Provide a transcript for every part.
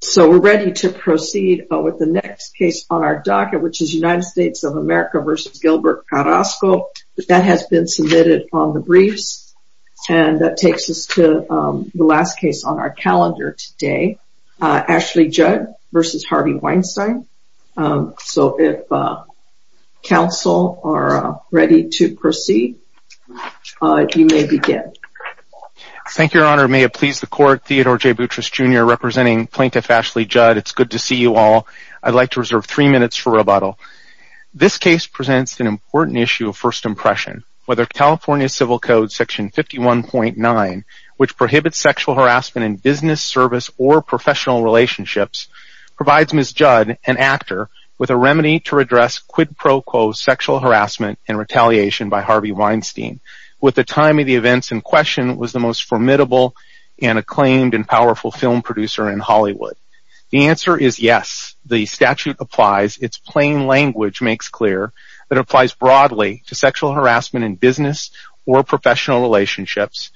So we're ready to proceed with the next case on our docket, which is United States of America v. Gilbert Carrasco. That has been submitted on the briefs, and that takes us to the last case on our calendar today, Ashley Judd v. Harvey Weinstein. So if counsel are ready to proceed, you may begin. Thank you, Your Honor. May it please the Court, Theodore J. Boutrous, Jr. representing Plaintiff Ashley Judd, it's good to see you all. I'd like to reserve three minutes for rebuttal. This case presents an important issue of first impression, whether California Civil Code Section 51.9, which prohibits sexual harassment in business, service, or professional relationships, provides Ms. Judd, an actor, with a remedy to redress quid pro quo sexual harassment and retaliation by Harvey Weinstein. With the time of the events in question, he was the most formidable and acclaimed and powerful film producer in Hollywood. The answer is yes. The statute applies. Its plain language makes clear that it applies broadly to sexual harassment in business or professional relationships.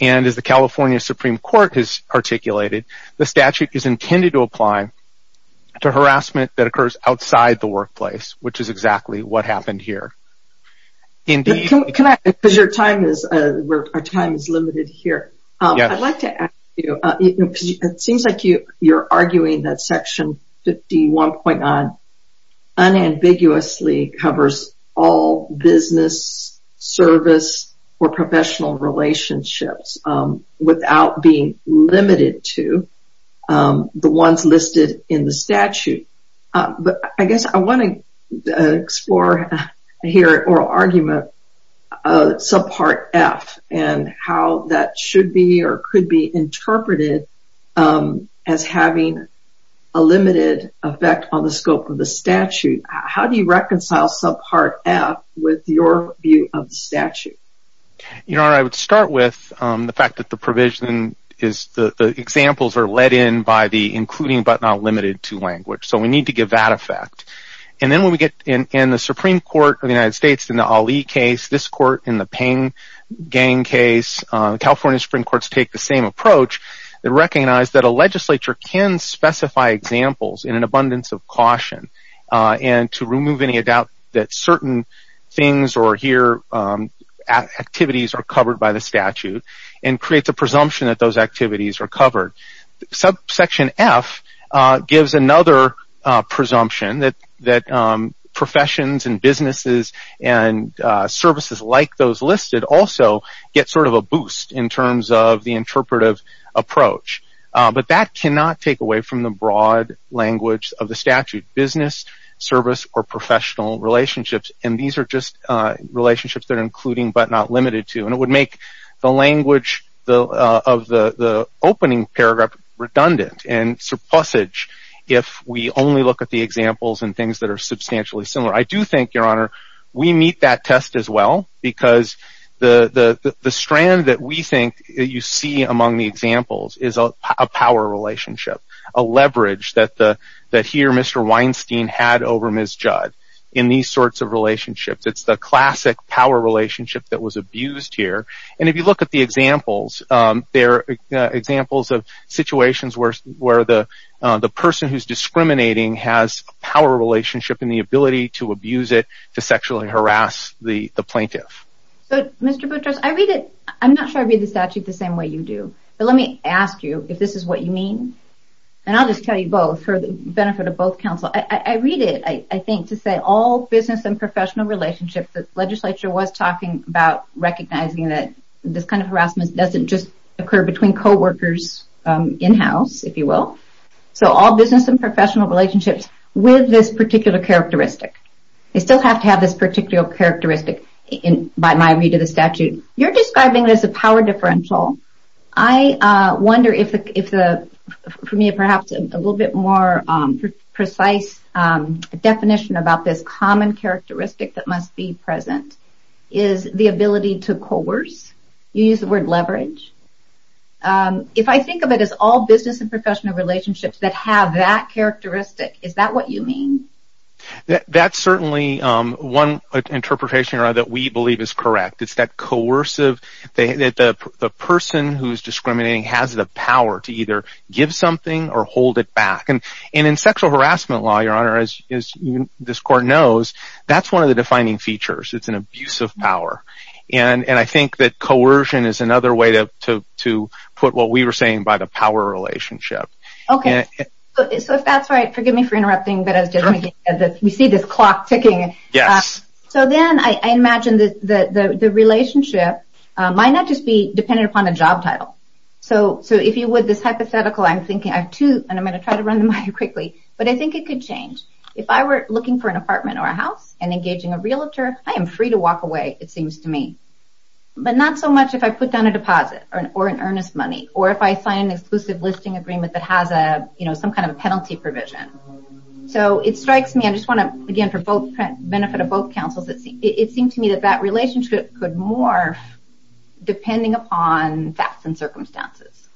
And as the California Supreme Court has articulated, the statute is intended to apply to harassment that occurs outside the workplace, which is exactly what happened here. Indeed. Can I, because your time is, our time is limited here. Yes. I'd like to ask you, it seems like you're arguing that Section 51.9 unambiguously covers all business, service, or professional relationships without being limited to the ones listed in the statute. But I guess I want to explore here, or argument, subpart F and how that should be or could be interpreted as having a limited effect on the scope of the statute. How do you reconcile subpart F with your view of the statute? You know, I would start with the fact that the provision is, the examples are led in by the including but not limited to language. So we need to give that effect. And then when we get in the Supreme Court of the United States in the Ali case, this court in the Peng gang case, California Supreme Courts take the same approach and recognize that a legislature can specify examples in an abundance of caution and to remove any doubt that certain things or here activities are covered by the statute and create the presumption that those activities are covered. Subsection F gives another presumption that professions and businesses and services like those listed also get sort of a boost in terms of the interpretive approach. But that cannot take away from the broad language of the statute, business, service, or professional relationships. And these are just relationships that are including but not limited to. And it would make the language of the opening paragraph redundant and surplusage if we only look at the examples and things that are substantially similar. I do think, Your Honor, we meet that test as well because the strand that we think you see among the examples is a power relationship, a leverage that here Mr. Weinstein had over Ms. Judd in these sorts of relationships. It's the classic power relationship that was abused here. And if you look at the examples, they're examples of situations where the person who's discriminating has a power relationship and the ability to abuse it, to sexually harass the plaintiff. So, Mr. Butrus, I read it. I'm not sure I read the statute the same way you do. But let me ask you if this is what you mean. And I'll just tell you both for the benefit of both counsel. I read it, I think, to say all business and professional relationships. The legislature was talking about recognizing that this kind of harassment doesn't just occur between coworkers in-house, if you will. So, all business and professional relationships with this particular characteristic. They still have to have this particular characteristic by my read of the statute. You're describing this as a power differential. I wonder if, for me, perhaps a little bit more precise definition about this common characteristic that must be present is the ability to coerce. You used the word leverage. If I think of it as all business and professional relationships that have that characteristic, is that what you mean? That's certainly one interpretation that we believe is correct. It's that coercive. The person who's discriminating has the power to either give something or hold it back. And in sexual harassment law, Your Honor, as this court knows, that's one of the defining features. It's an abuse of power. And I think that coercion is another way to put what we were saying by the power relationship. Okay. So, if that's right, forgive me for interrupting. But we see this clock ticking. Yes. So, then I imagine that the relationship might not just be dependent upon a job title. So, if you would, this hypothetical, I'm thinking I have two, and I'm going to try to run them by quickly. But I think it could change. If I were looking for an apartment or a house and engaging a realtor, I am free to walk away, it seems to me. But not so much if I put down a deposit or an earnest money or if I sign an exclusive listing agreement that has some kind of penalty provision. So, it strikes me. I just want to, again, for the benefit of both counsels, it seems to me that that relationship could morph depending upon facts and circumstances.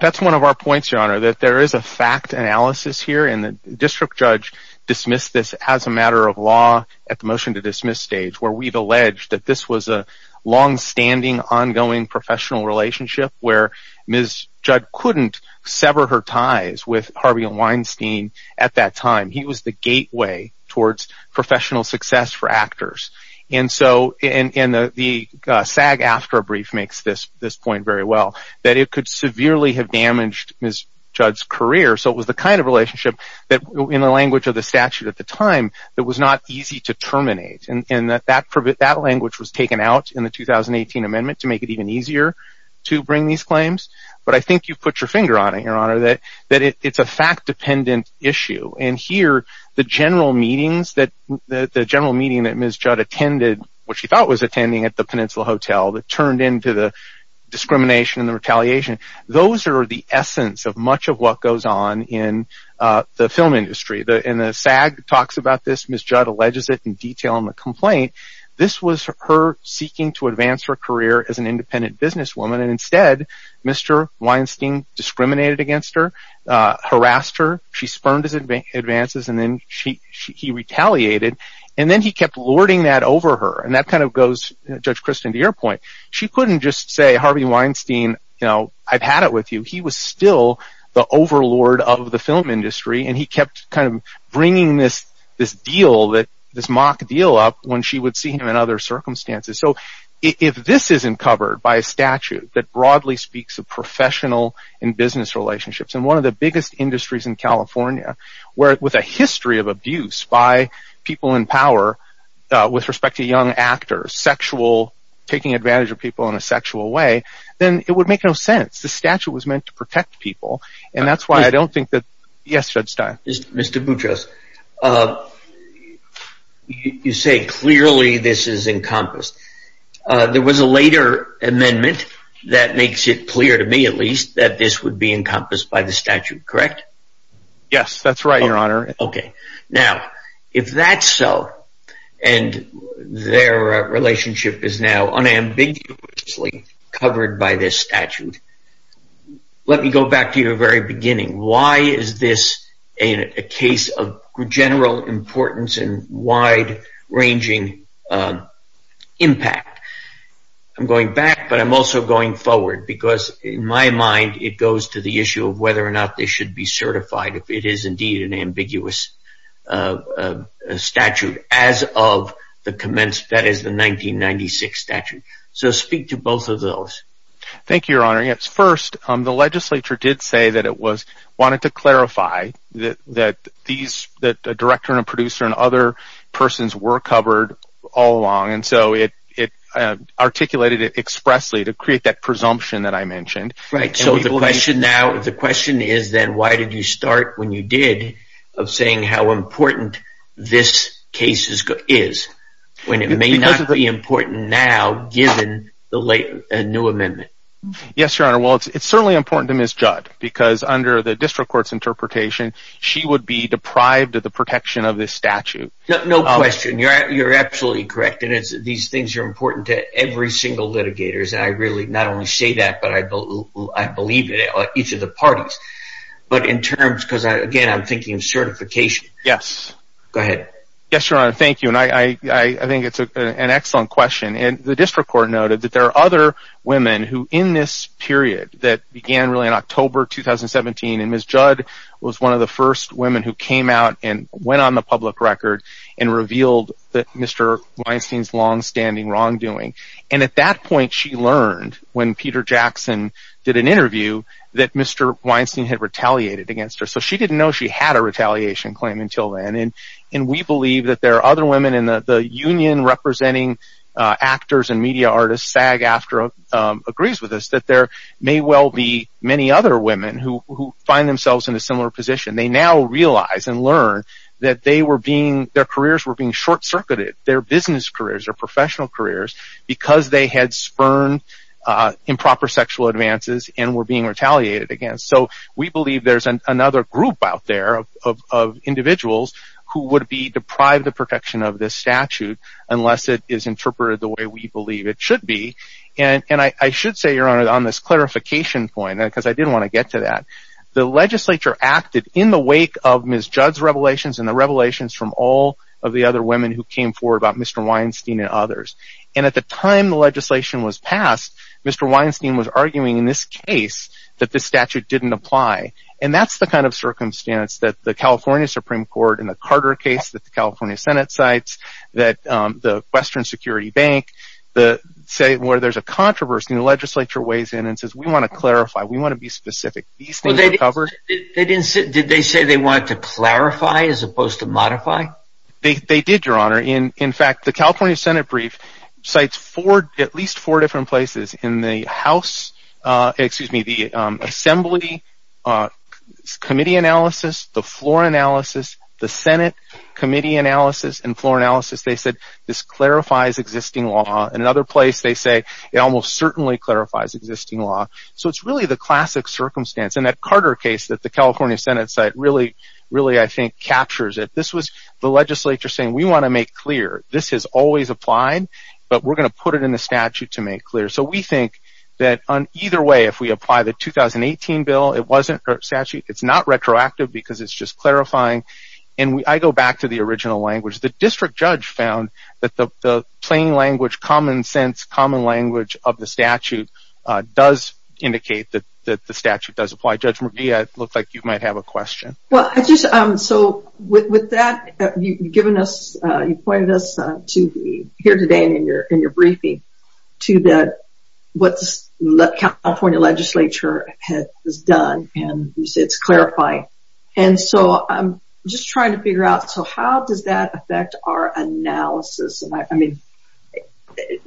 That's one of our points, Your Honor, that there is a fact analysis here. And the district judge dismissed this as a matter of law at the motion to dismiss stage where we've alleged that this was a longstanding, ongoing professional relationship where Ms. Judd couldn't sever her ties with Harvey Weinstein at that time. He was the gateway towards professional success for actors. And the SAG-AFTRA brief makes this point very well, that it could severely have damaged Ms. Judd's career. So, it was the kind of relationship that, in the language of the statute at the time, that was not easy to terminate. And that language was taken out in the 2018 amendment to make it even easier to bring these claims. But I think you've put your finger on it, Your Honor, that it's a fact-dependent issue. And here, the general meetings that Ms. Judd attended, which she thought was attending at the Peninsula Hotel, that turned into the discrimination and the retaliation, those are the essence of much of what goes on in the film industry. And the SAG talks about this, Ms. Judd alleges it in detail in the complaint. This was her seeking to advance her career as an independent businesswoman. And instead, Mr. Weinstein discriminated against her, harassed her, she spurned his advances, and then he retaliated. And then he kept lording that over her. And that kind of goes, Judge Kristen, to your point. She couldn't just say, Harvey Weinstein, I've had it with you. He was still the overlord of the film industry. And he kept kind of bringing this deal, this mock deal up when she would see him in other circumstances. So if this isn't covered by a statute that broadly speaks of professional and business relationships, and one of the biggest industries in California with a history of abuse by people in power with respect to young actors, sexual, taking advantage of people in a sexual way, then it would make no sense. The statute was meant to protect people. And that's why I don't think that – yes, Judge Stein. Mr. Boutros, you say clearly this is encompassed. There was a later amendment that makes it clear to me at least that this would be encompassed by the statute, correct? Yes, that's right, Your Honor. Now, if that's so, and their relationship is now unambiguously covered by this statute, let me go back to your very beginning. Why is this a case of general importance and wide-ranging impact? I'm going back, but I'm also going forward, because in my mind, it goes to the issue of whether or not they should be certified if it is indeed an ambiguous statute, as of the commenced – that is, the 1996 statute. So speak to both of those. Thank you, Your Honor. First, the legislature did say that it wanted to clarify that a director and a producer and other persons were covered all along, and so it articulated it expressly to create that presumption that I mentioned. Right, so the question is, then, why did you start, when you did, of saying how important this case is, when it may not be important now, given the new amendment? Yes, Your Honor, well, it's certainly important to Ms. Judd, because under the district court's interpretation, she would be deprived of the protection of this statute. No question, you're absolutely correct, and these things are important to every single litigator, and I really not only say that, but I believe it in each of the parties. But in terms – because, again, I'm thinking of certification. Yes. Go ahead. Yes, Your Honor, thank you, and I think it's an excellent question. The district court noted that there are other women who, in this period, that began really in October 2017, and Ms. Judd was one of the first women who came out and went on the public record and revealed Mr. Weinstein's longstanding wrongdoing. And at that point, she learned, when Peter Jackson did an interview, that Mr. Weinstein had retaliated against her. So she didn't know she had a retaliation claim until then, and we believe that there are other women in the union representing actors and media artists. SAG-AFTRA agrees with us that there may well be many other women who find themselves in a similar position. They now realize and learn that their careers were being short-circuited, their business careers, their professional careers, because they had spurned improper sexual advances and were being retaliated against. So we believe there's another group out there of individuals who would be deprived of protection of this statute unless it is interpreted the way we believe it should be. And I should say, Your Honor, on this clarification point, because I did want to get to that, the legislature acted in the wake of Ms. Judd's revelations and the revelations from all of the other women who came forward about Mr. Weinstein and others. And at the time the legislation was passed, Mr. Weinstein was arguing in this case that this statute didn't apply. And that's the kind of circumstance that the California Supreme Court and the Carter case that the California Senate cites, the Western Security Bank, where there's a controversy, Mr. Weinstein, the legislature weighs in and says, we want to clarify, we want to be specific. Did they say they wanted to clarify as opposed to modify? They did, Your Honor. In fact, the California Senate brief cites at least four different places in the House, the Assembly committee analysis, the floor analysis, the Senate committee analysis, and floor analysis. They said this clarifies existing law. In another place they say it almost certainly clarifies existing law. So it's really the classic circumstance. And that Carter case that the California Senate cite really, I think, captures it. This was the legislature saying, we want to make clear. This has always applied, but we're going to put it in the statute to make clear. So we think that either way, if we apply the 2018 bill, it's not retroactive because it's just clarifying. And I go back to the original language. The district judge found that the plain language, common sense, common language of the statute does indicate that the statute does apply. Judge McGee, it looks like you might have a question. So with that, you've given us, you've pointed us here today in your briefing to what the California legislature has done, and you said it's clarifying. And so I'm just trying to figure out, so how does that affect our analysis? I mean,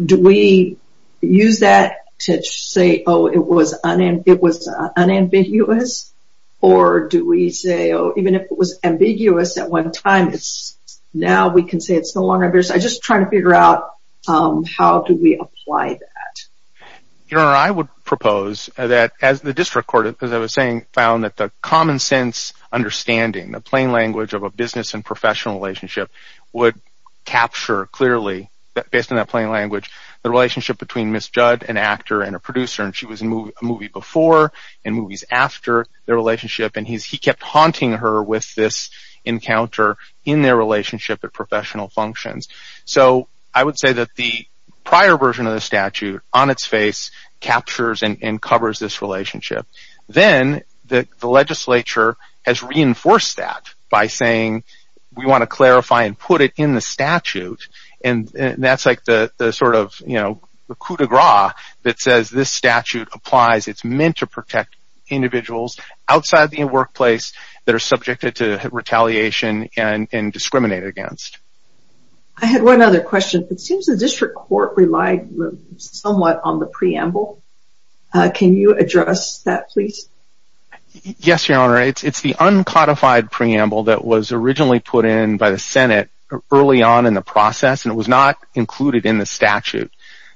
do we use that to say, oh, it was unambiguous? Or do we say, oh, even if it was ambiguous at one time, now we can say it's no longer ambiguous? I'm just trying to figure out how do we apply that. Your Honor, I would propose that as the district court, as I was saying, found that the common sense understanding, the plain language of a business and professional relationship would capture clearly, based on that plain language, the relationship between Ms. Judd, an actor and a producer, and she was in a movie before and movies after their relationship, and he kept haunting her with this encounter in their relationship at professional functions. So I would say that the prior version of the statute, on its face, captures and covers this relationship. Then the legislature has reinforced that by saying we want to clarify and put it in the statute, and that's like the sort of coup de grace that says this statute applies. It's meant to protect individuals outside the workplace that are subjected to retaliation and discriminated against. I had one other question. It seems the district court relied somewhat on the preamble. Can you address that, please? Yes, Your Honor. It's the uncodified preamble that was originally put in by the Senate early on in the process, and it was not included in the statute.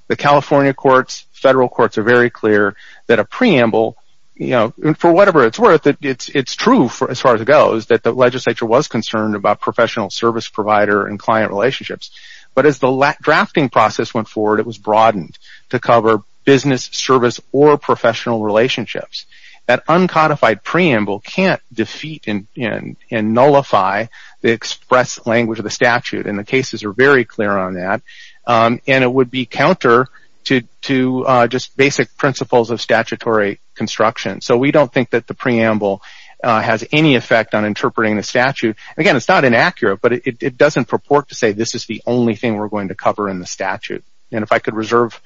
The California courts, federal courts are very clear that a preamble, for whatever it's worth, it's true as far as it goes that the legislature was concerned about professional service provider and client relationships, but as the drafting process went forward, it was broadened to cover business, service, or professional relationships. That uncodified preamble can't defeat and nullify the express language of the statute, and the cases are very clear on that, and it would be counter to just basic principles of statutory construction. So we don't think that the preamble has any effect on interpreting the statute. Again, it's not inaccurate, but it doesn't purport to say this is the only thing we're going to cover in the statute, and if I could reserve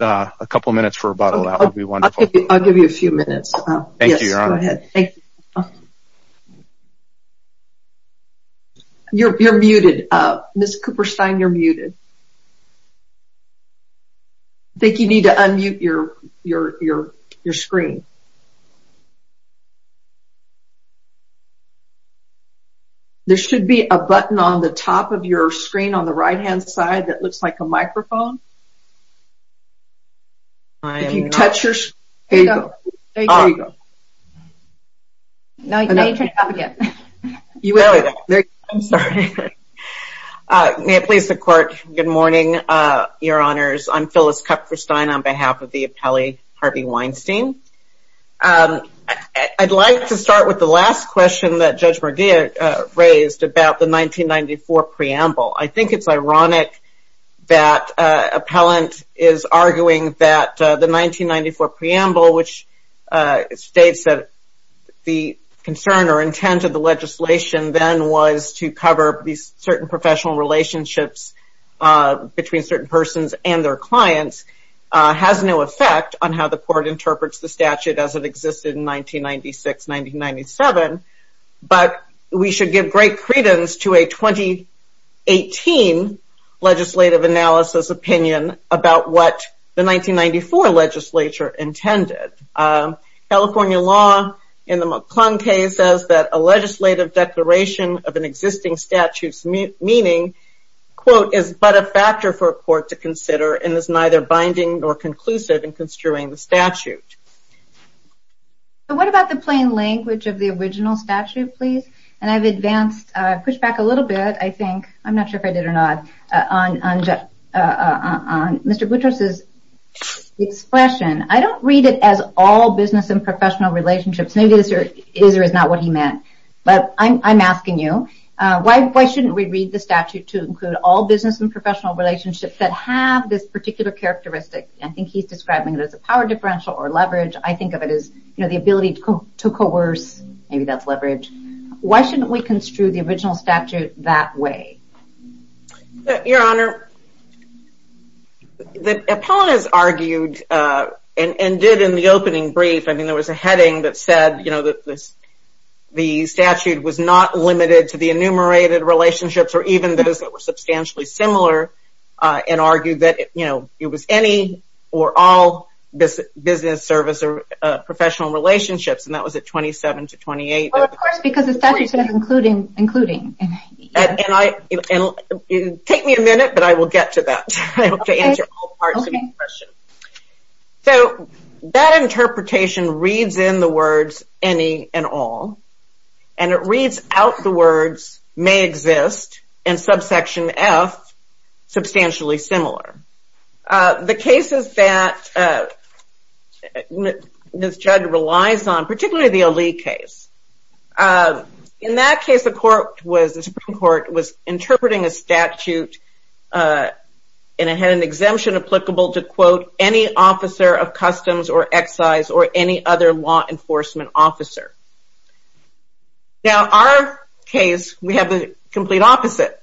a couple minutes for rebuttal, that would be wonderful. I'll give you a few minutes. Thank you, Your Honor. Yes, go ahead. Ms. Cooperstein, you're muted. I think you need to unmute your screen. There should be a button on the top of your screen on the right-hand side that looks like a microphone. I am not. If you touch your screen. There you go. Thank you. There you go. Now you turn it off again. I'm sorry. May it please the Court, good morning, Your Honors. I'm Phyllis Cooperstein on behalf of the appellee, Harvey Weinstein. I'd like to start with the last question that Judge Morgia raised about the 1994 preamble. I think it's ironic that an appellant is arguing that the 1994 preamble, which states that the concern or intent of the legislation then was to cover certain professional relationships between certain persons and their clients, has no effect on how the Court interprets the statute as it existed in 1996-1997, but we should give great credence to a 2018 legislative analysis opinion about what the 1994 legislature intended. California law in the McClung case says that a legislative declaration of an existing statute's meaning, quote, is but a factor for a court to consider and is neither binding nor conclusive in construing the statute. What about the plain language of the original statute, please? I've advanced, I've pushed back a little bit, I think. I'm not sure if I did or not, on Mr. Boutros' expression. I don't read it as all business and professional relationships. Maybe it is or is not what he meant, but I'm asking you, why shouldn't we read the statute to include all business and professional relationships that have this particular characteristic? I think he's describing it as a power differential or leverage. I think of it as the ability to coerce, maybe that's leverage. Why shouldn't we construe the original statute that way? Your Honor, Apollon has argued and did in the opening brief, I mean there was a heading that said the statute was not limited to the enumerated relationships or even those that were substantially similar and argued that it was any or all business, service, or professional relationships. And that was at 27 to 28. Well, of course, because the statute says including. Take me a minute, but I will get to that. I hope to answer all parts of your question. So, that interpretation reads in the words any and all. And it reads out the words may exist and subsection F substantially similar. The cases that this judge relies on, particularly the Ali case. In that case, the Supreme Court was interpreting a statute and it had an exemption applicable to quote any officer of customs or excise or any other law enforcement officer. Now, our case, we have the complete opposite.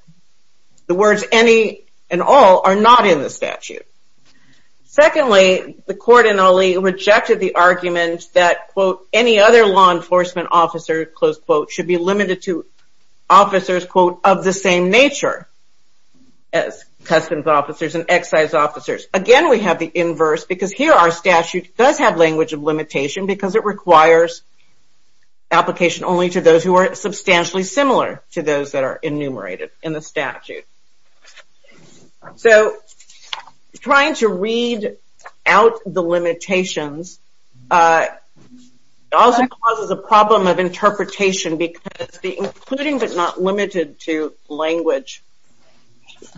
The words any and all are not in the statute. Secondly, the court in Ali rejected the argument that quote any other law enforcement officer, close quote, should be limited to officers quote of the same nature as customs officers and excise officers. Again, we have the inverse because here our statute does have language of limitation because it requires application only to those who are substantially similar to those that are enumerated in the statute. So, trying to read out the limitations also causes a problem of interpretation because the including but not limited to language.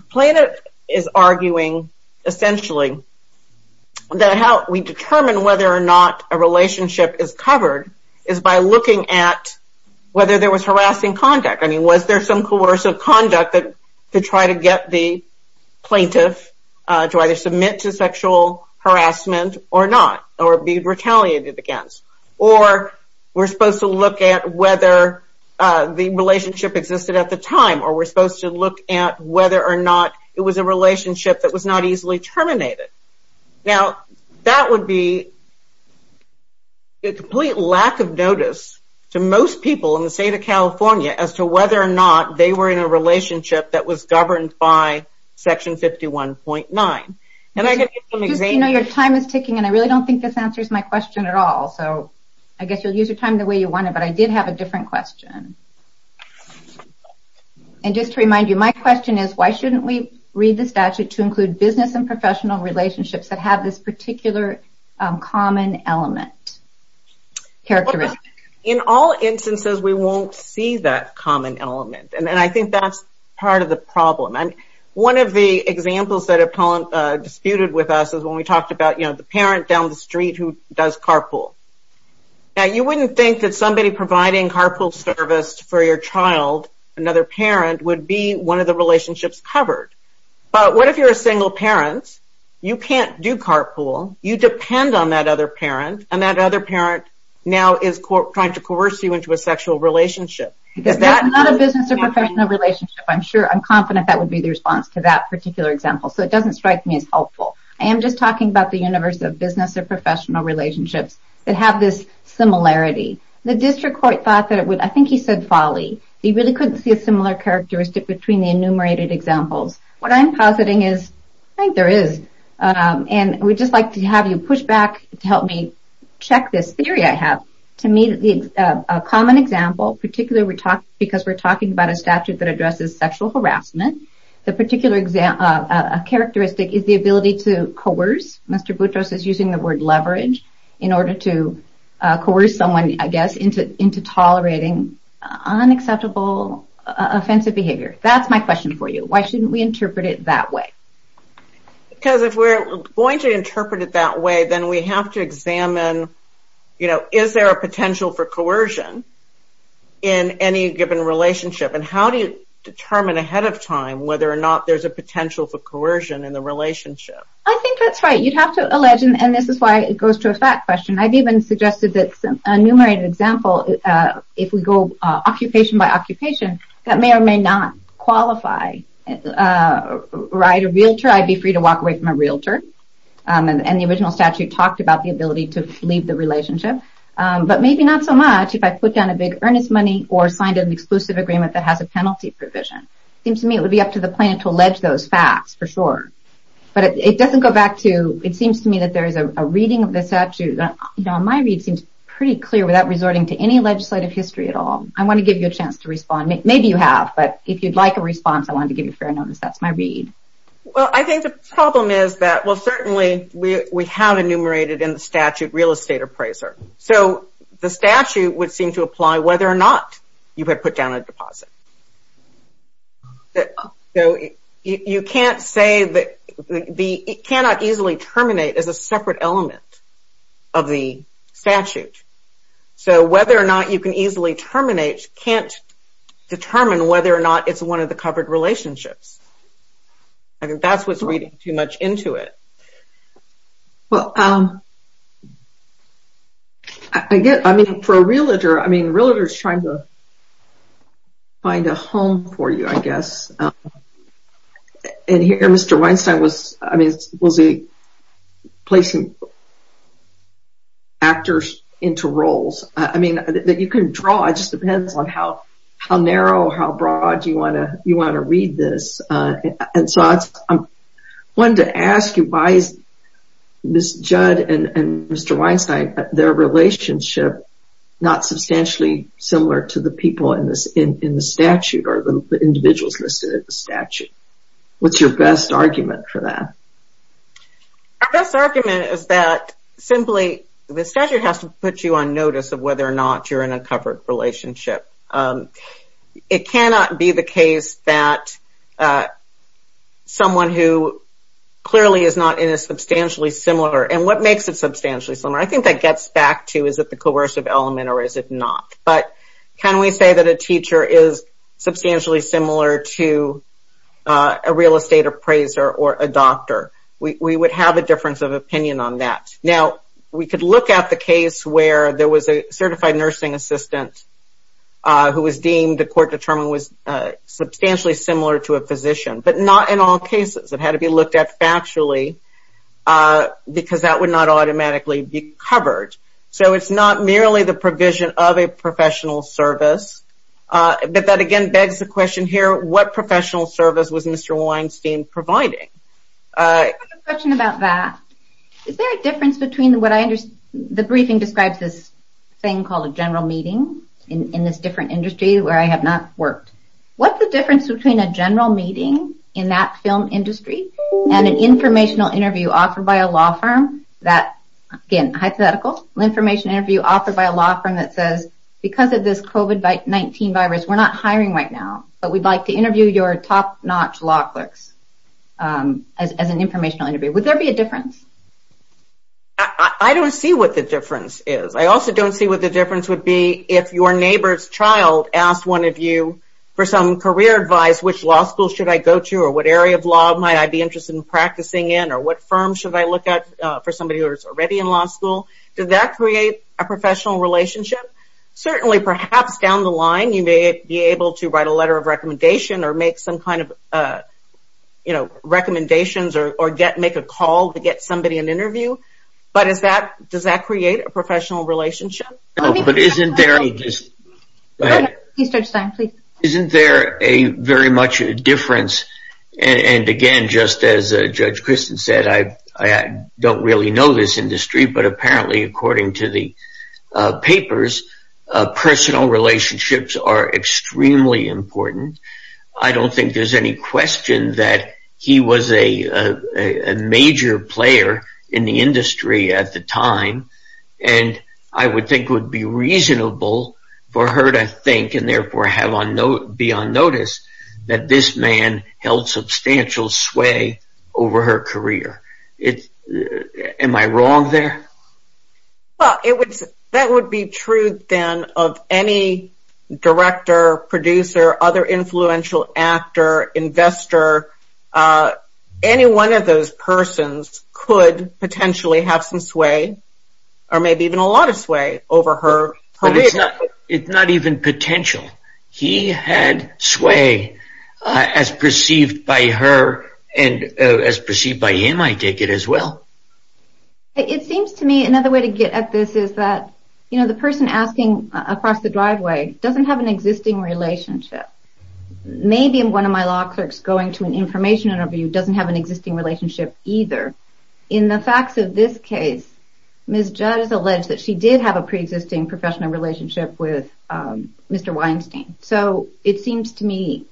Plaintiff is arguing essentially that how we determine whether or not a relationship is covered is by looking at whether there was harassing conduct. I mean, was there some coercive conduct to try to get the plaintiff to either submit to sexual harassment or not or be retaliated against or we're supposed to look at whether the relationship existed at the time or we're supposed to look at whether or not it was a relationship that was not easily terminated. Now, that would be a complete lack of notice to most people in the state of California as to whether or not they were in a relationship that was governed by section 51.9. Your time is ticking and I really don't think this answers my question at all. So, I guess you'll use your time the way you want it, but I did have a different question. Just to remind you, my question is why shouldn't we read the statute to include business and professional relationships that have this particular common element characteristic? In all instances, we won't see that common element and I think that's part of the problem. One of the examples that have been disputed with us is when we talked about the parent down the street who does carpool. Now, you wouldn't think that somebody providing carpool service for your child, another parent, would be one of the relationships covered. But, what if you're a single parent, you can't do carpool, you depend on that other parent and that other parent now is trying to coerce you into a sexual relationship? That's not a business or professional relationship. I'm sure, I'm confident that would be the response to that particular example. So, it doesn't strike me as helpful. I am just talking about the universe of business or professional relationships that have this similarity. The district court thought that it would, I think he said folly. He really couldn't see a similar characteristic between the enumerated examples. What I'm positing is, I think there is. And, we'd just like to have you push back to help me check this theory I have. To me, a common example, particularly because we're talking about a statute that addresses sexual harassment, the particular characteristic is the ability to coerce. Mr. Boutros is using the word leverage in order to coerce someone, I guess, into tolerating unacceptable offensive behavior. That's my question for you. Why shouldn't we interpret it that way? Because if we're going to interpret it that way, then we have to examine, you know, is there a potential for coercion in any given relationship? And, how do you determine ahead of time whether or not there's a potential for coercion in the relationship? I think that's right. You'd have to allege, and this is why it goes to a fact question. I've even suggested that an enumerated example, if we go occupation by occupation, that may or may not qualify, right? A realtor, I'd be free to walk away from a realtor. And, the original statute talked about the ability to leave the relationship. But, maybe not so much if I put down a big earnest money or signed an exclusive agreement that has a penalty provision. It seems to me it would be up to the plaintiff to allege those facts, for sure. But, it doesn't go back to, it seems to me that there is a reading of the statute. You know, my read seems pretty clear without resorting to any legislative history at all. I want to give you a chance to respond. Maybe you have, but if you'd like a response, I wanted to give you fair notice. That's my read. Well, I think the problem is that, well, certainly we have enumerated in the statute real estate appraiser. So, the statute would seem to apply whether or not you had put down a deposit. So, you can't say, it cannot easily terminate as a separate element of the statute. So, whether or not you can easily terminate can't determine whether or not it's one of the covered relationships. I think that's what's reading too much into it. Well, I get, I mean, for a realtor, I mean, a realtor is trying to find a home for you, I guess. And here, Mr. Weinstein was, I mean, was placing actors into roles. I mean, you can draw, it just depends on how narrow, how broad you want to read this. And so, I wanted to ask you, why is Ms. Judd and Mr. Weinstein, their relationship not substantially similar to the people in the statute or the individuals listed in the statute? What's your best argument for that? Our best argument is that, simply, the statute has to put you on notice of whether or not you're in a covered relationship. It cannot be the case that someone who clearly is not in a substantially similar, and what makes it substantially similar? I think that gets back to, is it the coercive element or is it not? But can we say that a teacher is substantially similar to a real estate appraiser or a doctor? We would have a difference of opinion on that. Now, we could look at the case where there was a certified nursing assistant who was deemed, the court determined, was substantially similar to a physician. But not in all cases. It had to be looked at factually because that would not automatically be covered. So, it's not merely the provision of a professional service. But that, again, begs the question here, what professional service was Mr. Weinstein providing? I have a question about that. Is there a difference between what I understand? The briefing describes this thing called a general meeting in this different industry where I have not worked. What's the difference between a general meeting in that film industry and an informational interview offered by a law firm? Again, hypothetical. An informational interview offered by a law firm that says, because of this COVID-19 virus, we're not hiring right now. But we'd like to interview your top-notch law clerks as an informational interview. Would there be a difference? I don't see what the difference is. I also don't see what the difference would be if your neighbor's child asked one of you for some career advice, which law school should I go to or what area of law might I be interested in practicing in or what firm should I look at for somebody who is already in law school? Does that create a professional relationship? Certainly, perhaps down the line, you may be able to write a letter of recommendation or make some kind of recommendations or make a call to get somebody an interview. But does that create a professional relationship? Isn't there very much a difference? And again, just as Judge Christen said, I don't really know this industry, but apparently, according to the papers, personal relationships are extremely important. I don't think there's any question that he was a major player in the industry at the time. And I would think it would be reasonable for her to think and therefore be on notice that this man held substantial sway over her career. Am I wrong there? Well, that would be true then of any director, producer, other influential actor, investor. Any one of those persons could potentially have some sway or maybe even a lot of sway over her career. It's not even potential. He had sway as perceived by her and as perceived by him, I take it, as well. It seems to me another way to get at this is that the person asking across the driveway doesn't have an existing relationship. Maybe one of my law clerks going to an information interview doesn't have an existing relationship either. In the facts of this case, Ms. Judd has alleged that she did have a pre-existing professional relationship with Mr. Weinstein. So, it seems to me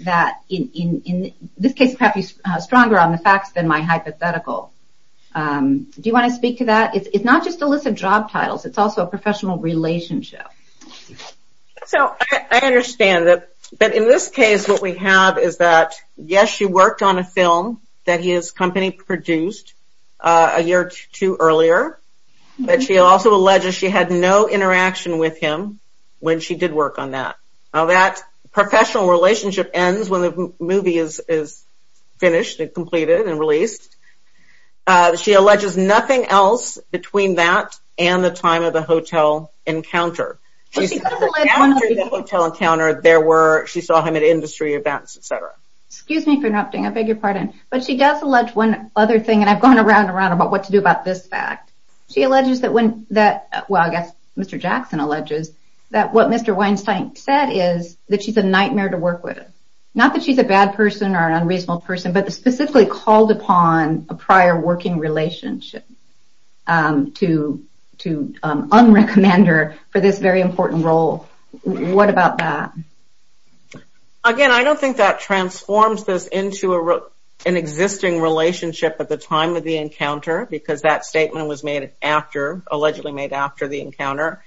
that in this case, it's probably stronger on the facts than my hypothetical. Do you want to speak to that? It's not just a list of job titles. It's also a professional relationship. So, I understand. But in this case, what we have is that, yes, she worked on a film that his company produced a year or two earlier. But she also alleges she had no interaction with him when she did work on that. Now, that professional relationship ends when the movie is finished and completed and released. She alleges nothing else between that and the time of the hotel encounter. She saw him at industry events, etc. Excuse me for interrupting. I beg your pardon. But she does allege one other thing, and I've gone around and around about what to do about this fact. She alleges that, well, I guess Mr. Jackson alleges that what Mr. Weinstein said is that she's a nightmare to work with. Not that she's a bad person or an unreasonable person, but specifically called upon a prior working relationship to un-recommend her for this very important role. What about that? Again, I don't think that transforms this into an existing relationship at the time of the encounter, because that statement was made after, allegedly made after the encounter.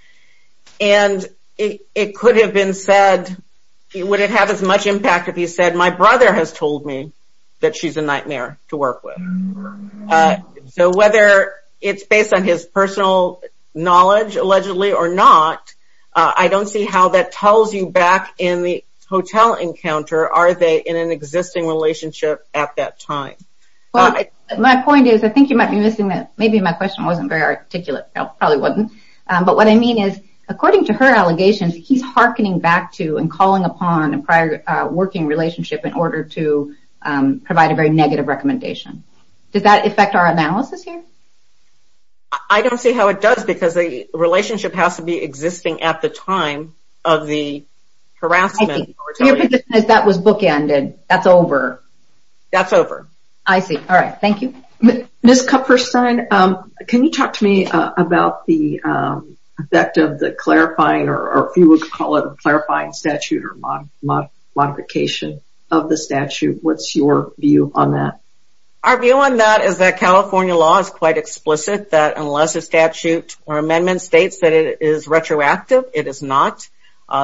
And it could have been said, would it have as much impact if he said, my brother has told me that she's a nightmare to work with. So whether it's based on his personal knowledge, allegedly, or not, I don't see how that tells you back in the hotel encounter, are they in an existing relationship at that time? Well, my point is, I think you might be missing that. Maybe my question wasn't very articulate. It probably wasn't. But what I mean is, according to her allegations, he's hearkening back to and calling upon a prior working relationship in order to provide a very negative recommendation. Does that affect our analysis here? I don't see how it does, because the relationship has to be existing at the time of the harassment. Your position is that was bookended. That's over. That's over. I see. All right. Thank you. Ms. Kupferstein, can you talk to me about the effect of the clarifying, or if you would call it a clarifying statute or modification of the statute? What's your view on that? Our view on that is that California law is quite explicit that unless a statute or amendment states that it is retroactive, it is not.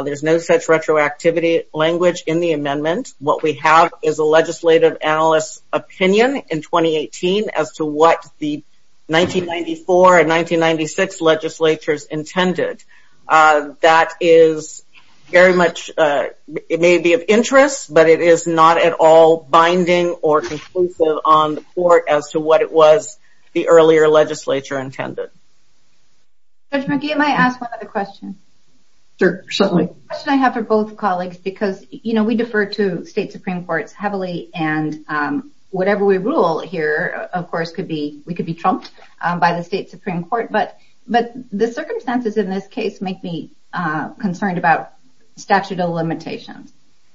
There's no such retroactivity language in the amendment. What we have is a legislative analyst's opinion in 2018 as to what the 1994 and 1996 legislatures intended. That is very much, it may be of interest, but it is not at all binding or conclusive on the court as to what it was the earlier legislature intended. Judge McGee, may I ask one other question? Sure, certainly. The question I have for both colleagues, because we defer to state Supreme Courts heavily, and whatever we rule here, of course, we could be trumped by the state Supreme Court. But the circumstances in this case make me concerned about statute of limitations.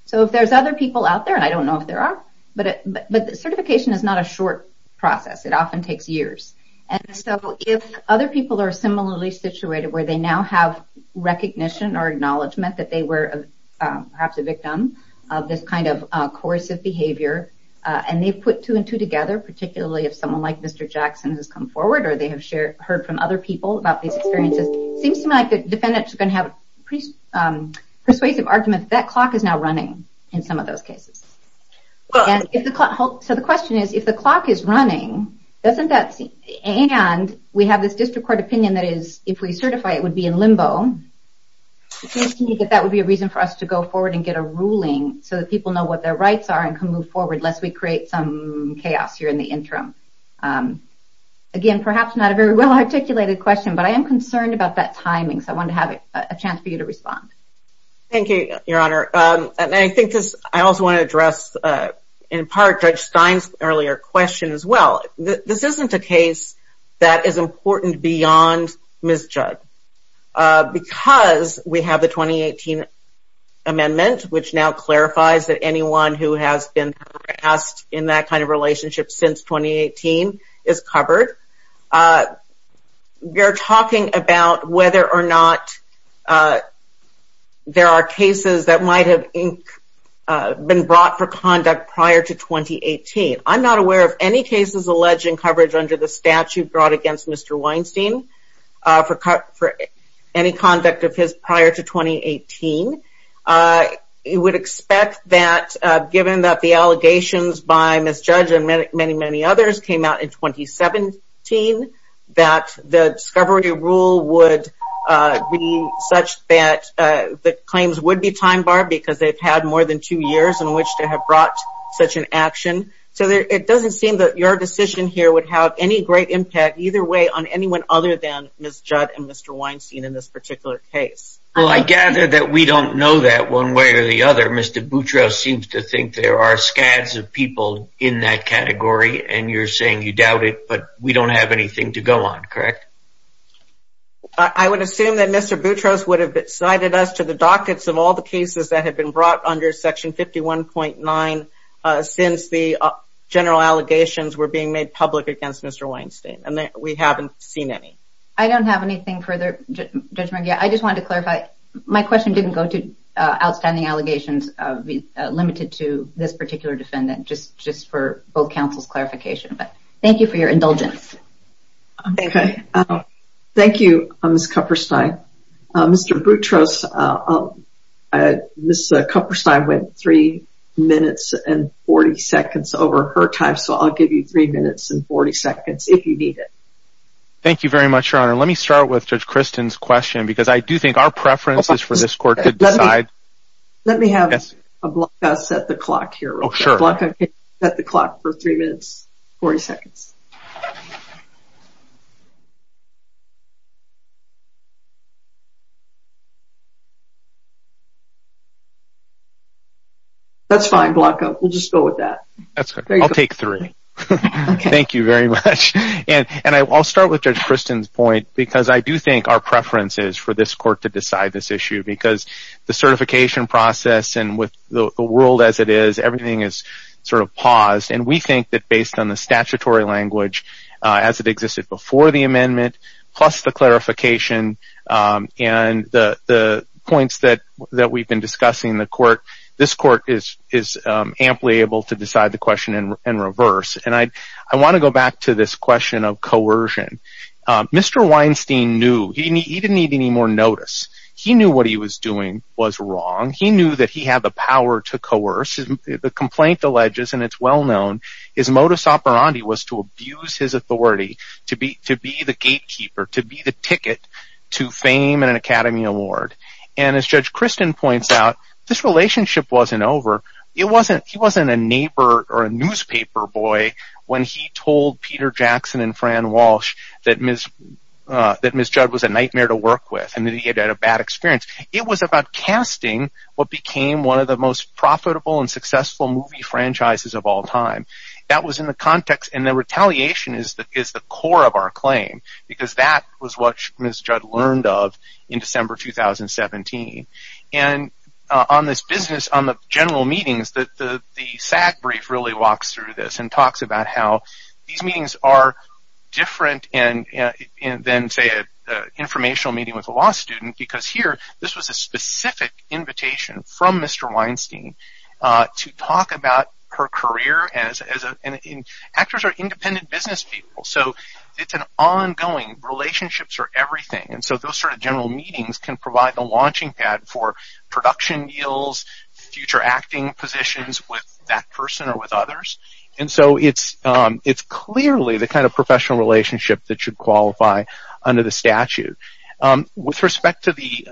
So if there's other people out there, and I don't know if there are, but certification is not a short process. It often takes years. And so if other people are similarly situated where they now have recognition or acknowledgement that they were perhaps a victim of this kind of coercive behavior, and they've put two and two together, particularly if someone like Mr. Jackson has come forward or they have heard from other people about these experiences, it seems to me like the defendant is going to have a pretty persuasive argument that that clock is now running in some of those cases. So the question is, if the clock is running, and we have this district court opinion that if we certify it would be in limbo, it seems to me that that would be a reason for us to go forward and get a ruling so that people know what their rights are and can move forward, lest we create some chaos here in the interim. Again, perhaps not a very well-articulated question, but I am concerned about that timing, so I wanted to have a chance for you to respond. Thank you, Your Honor. I also want to address, in part, Judge Stein's earlier question as well. This isn't a case that is important beyond Ms. Judd, because we have the 2018 amendment, which now clarifies that anyone who has been harassed in that kind of relationship since 2018 is covered. You're talking about whether or not there are cases that might have been brought for conduct prior to 2018. I'm not aware of any cases alleging coverage under the statute brought against Mr. Weinstein for any conduct of his prior to 2018. You would expect that, given that the allegations by Ms. Judd and many, many others came out in 2017, that the discovery rule would be such that the claims would be time-barred, because they've had more than two years in which to have brought such an action. So it doesn't seem that your decision here would have any great impact either way on anyone other than Ms. Judd and Mr. Weinstein in this particular case. Well, I gather that we don't know that one way or the other. Mr. Boutros seems to think there are scads of people in that category, and you're saying you doubt it, but we don't have anything to go on, correct? I would assume that Mr. Boutros would have cited us to the dockets of all the cases that have been brought under Section 51.9 since the general allegations were being made public against Mr. Weinstein, and we haven't seen any. I don't have anything further, Judge McGee. I just wanted to clarify, my question didn't go to outstanding allegations limited to this particular defendant, just for both counsel's clarification, but thank you for your indulgence. Okay. Thank you, Ms. Kupferstein. Mr. Boutros, Ms. Kupferstein went three minutes and 40 seconds over her time, so I'll give you three minutes and 40 seconds if you need it. Thank you very much, Your Honor. Let me start with Judge Christin's question, because I do think our preferences for this court could decide. Let me have Blanka set the clock here real quick. Oh, sure. Blanka, can you set the clock for three minutes and 40 seconds? That's fine, Blanka. We'll just go with that. I'll take three. Thank you very much. I'll start with Judge Christin's point, because I do think our preference is for this court to decide this issue, because the certification process and with the world as it is, everything is sort of paused, and we think that based on the statutory language as it existed before the amendment, plus the clarification and the points that we've been discussing in the court, this court is amply able to decide the question in reverse. I want to go back to this question of coercion. Mr. Weinstein knew. He didn't need any more notice. He knew what he was doing was wrong. He knew that he had the power to coerce. The complaint alleges, and it's well known, his modus operandi was to abuse his authority to be the gatekeeper, to be the ticket to fame and an Academy Award. As Judge Christin points out, this relationship wasn't over. He wasn't a neighbor or a newspaper boy when he told Peter Jackson and Fran Walsh that Ms. Judd was a nightmare to work with and that he had a bad experience. It was about casting what became one of the most profitable and successful movie franchises of all time. That was in the context, and the retaliation is the core of our claim, because that was what Ms. Judd learned of in December 2017. On this business, on the general meetings, the SAG brief really walks through this and talks about how these meetings are different than, say, an informational meeting with a law student, because here, this was a specific invitation from Mr. Weinstein to talk about her career. Actors are independent business people, so it's an ongoing relationship for everything. Those sort of general meetings can provide the launching pad for production deals, future acting positions with that person or with others. It's clearly the kind of professional relationship that should qualify under the statute. With respect to the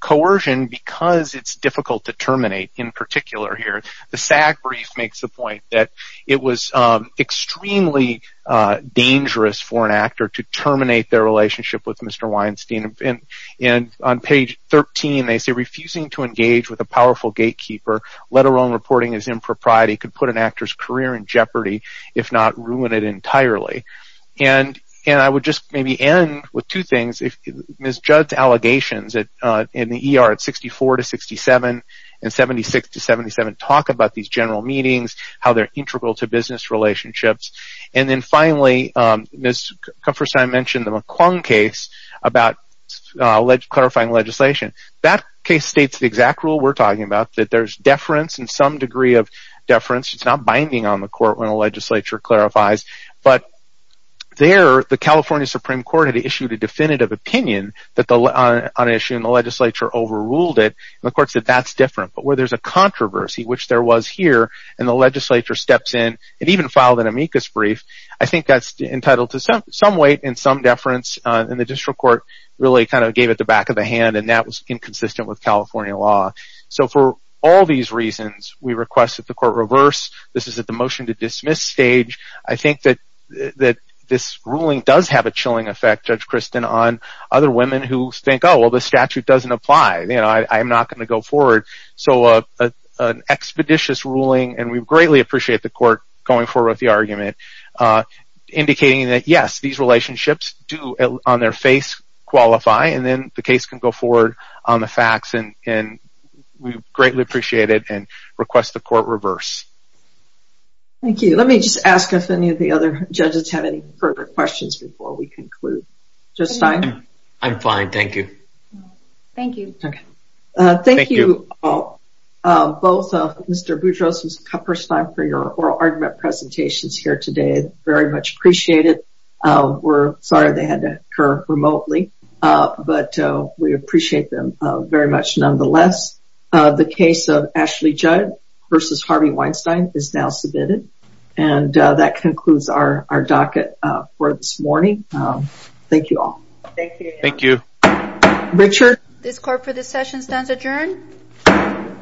coercion, because it's difficult to terminate in particular here, the SAG brief makes the point that it was extremely dangerous for an actor to terminate their relationship with Mr. Weinstein. On page 13, they say, Refusing to engage with a powerful gatekeeper, let alone reporting his impropriety, could put an actor's career in jeopardy, if not ruin it entirely. I would just maybe end with two things. Ms. Judd's allegations in the ER at 64-67 and 76-77 talk about these general meetings, how they're integral to business relationships. And then finally, Ms. Kupferstein mentioned the McQuown case about clarifying legislation. That case states the exact rule we're talking about, that there's deference, and some degree of deference. It's not binding on the court when a legislature clarifies. But there, the California Supreme Court had issued a definitive opinion on an issue, and the legislature overruled it. The court said that's different. But where there's a controversy, which there was here, and the legislature steps in and even filed an amicus brief, I think that's entitled to some weight and some deference. And the district court really kind of gave it the back of the hand, and that was inconsistent with California law. So for all these reasons, we request that the court reverse. This is at the motion-to-dismiss stage. I think that this ruling does have a chilling effect, Judge Kristen, on other women who think, oh, well, this statute doesn't apply. I'm not going to go forward. So an expeditious ruling, and we greatly appreciate the court going forward with the argument, indicating that, yes, these relationships do on their face qualify, and then the case can go forward on the facts, and we greatly appreciate it and request the court reverse. Thank you. Let me just ask if any of the other judges have any further questions before we conclude. Judge Stein? I'm fine. Thank you. Thank you. Thank you all, both Mr. Boudreaux and Ms. Kupperstein, for your oral argument presentations here today. Very much appreciate it. We're sorry they had to occur remotely, but we appreciate them very much nonetheless. The case of Ashley Judd versus Harvey Weinstein is now submitted, and that concludes our docket for this morning. Thank you all. Thank you. Thank you. Richard? This court for this session stands adjourned.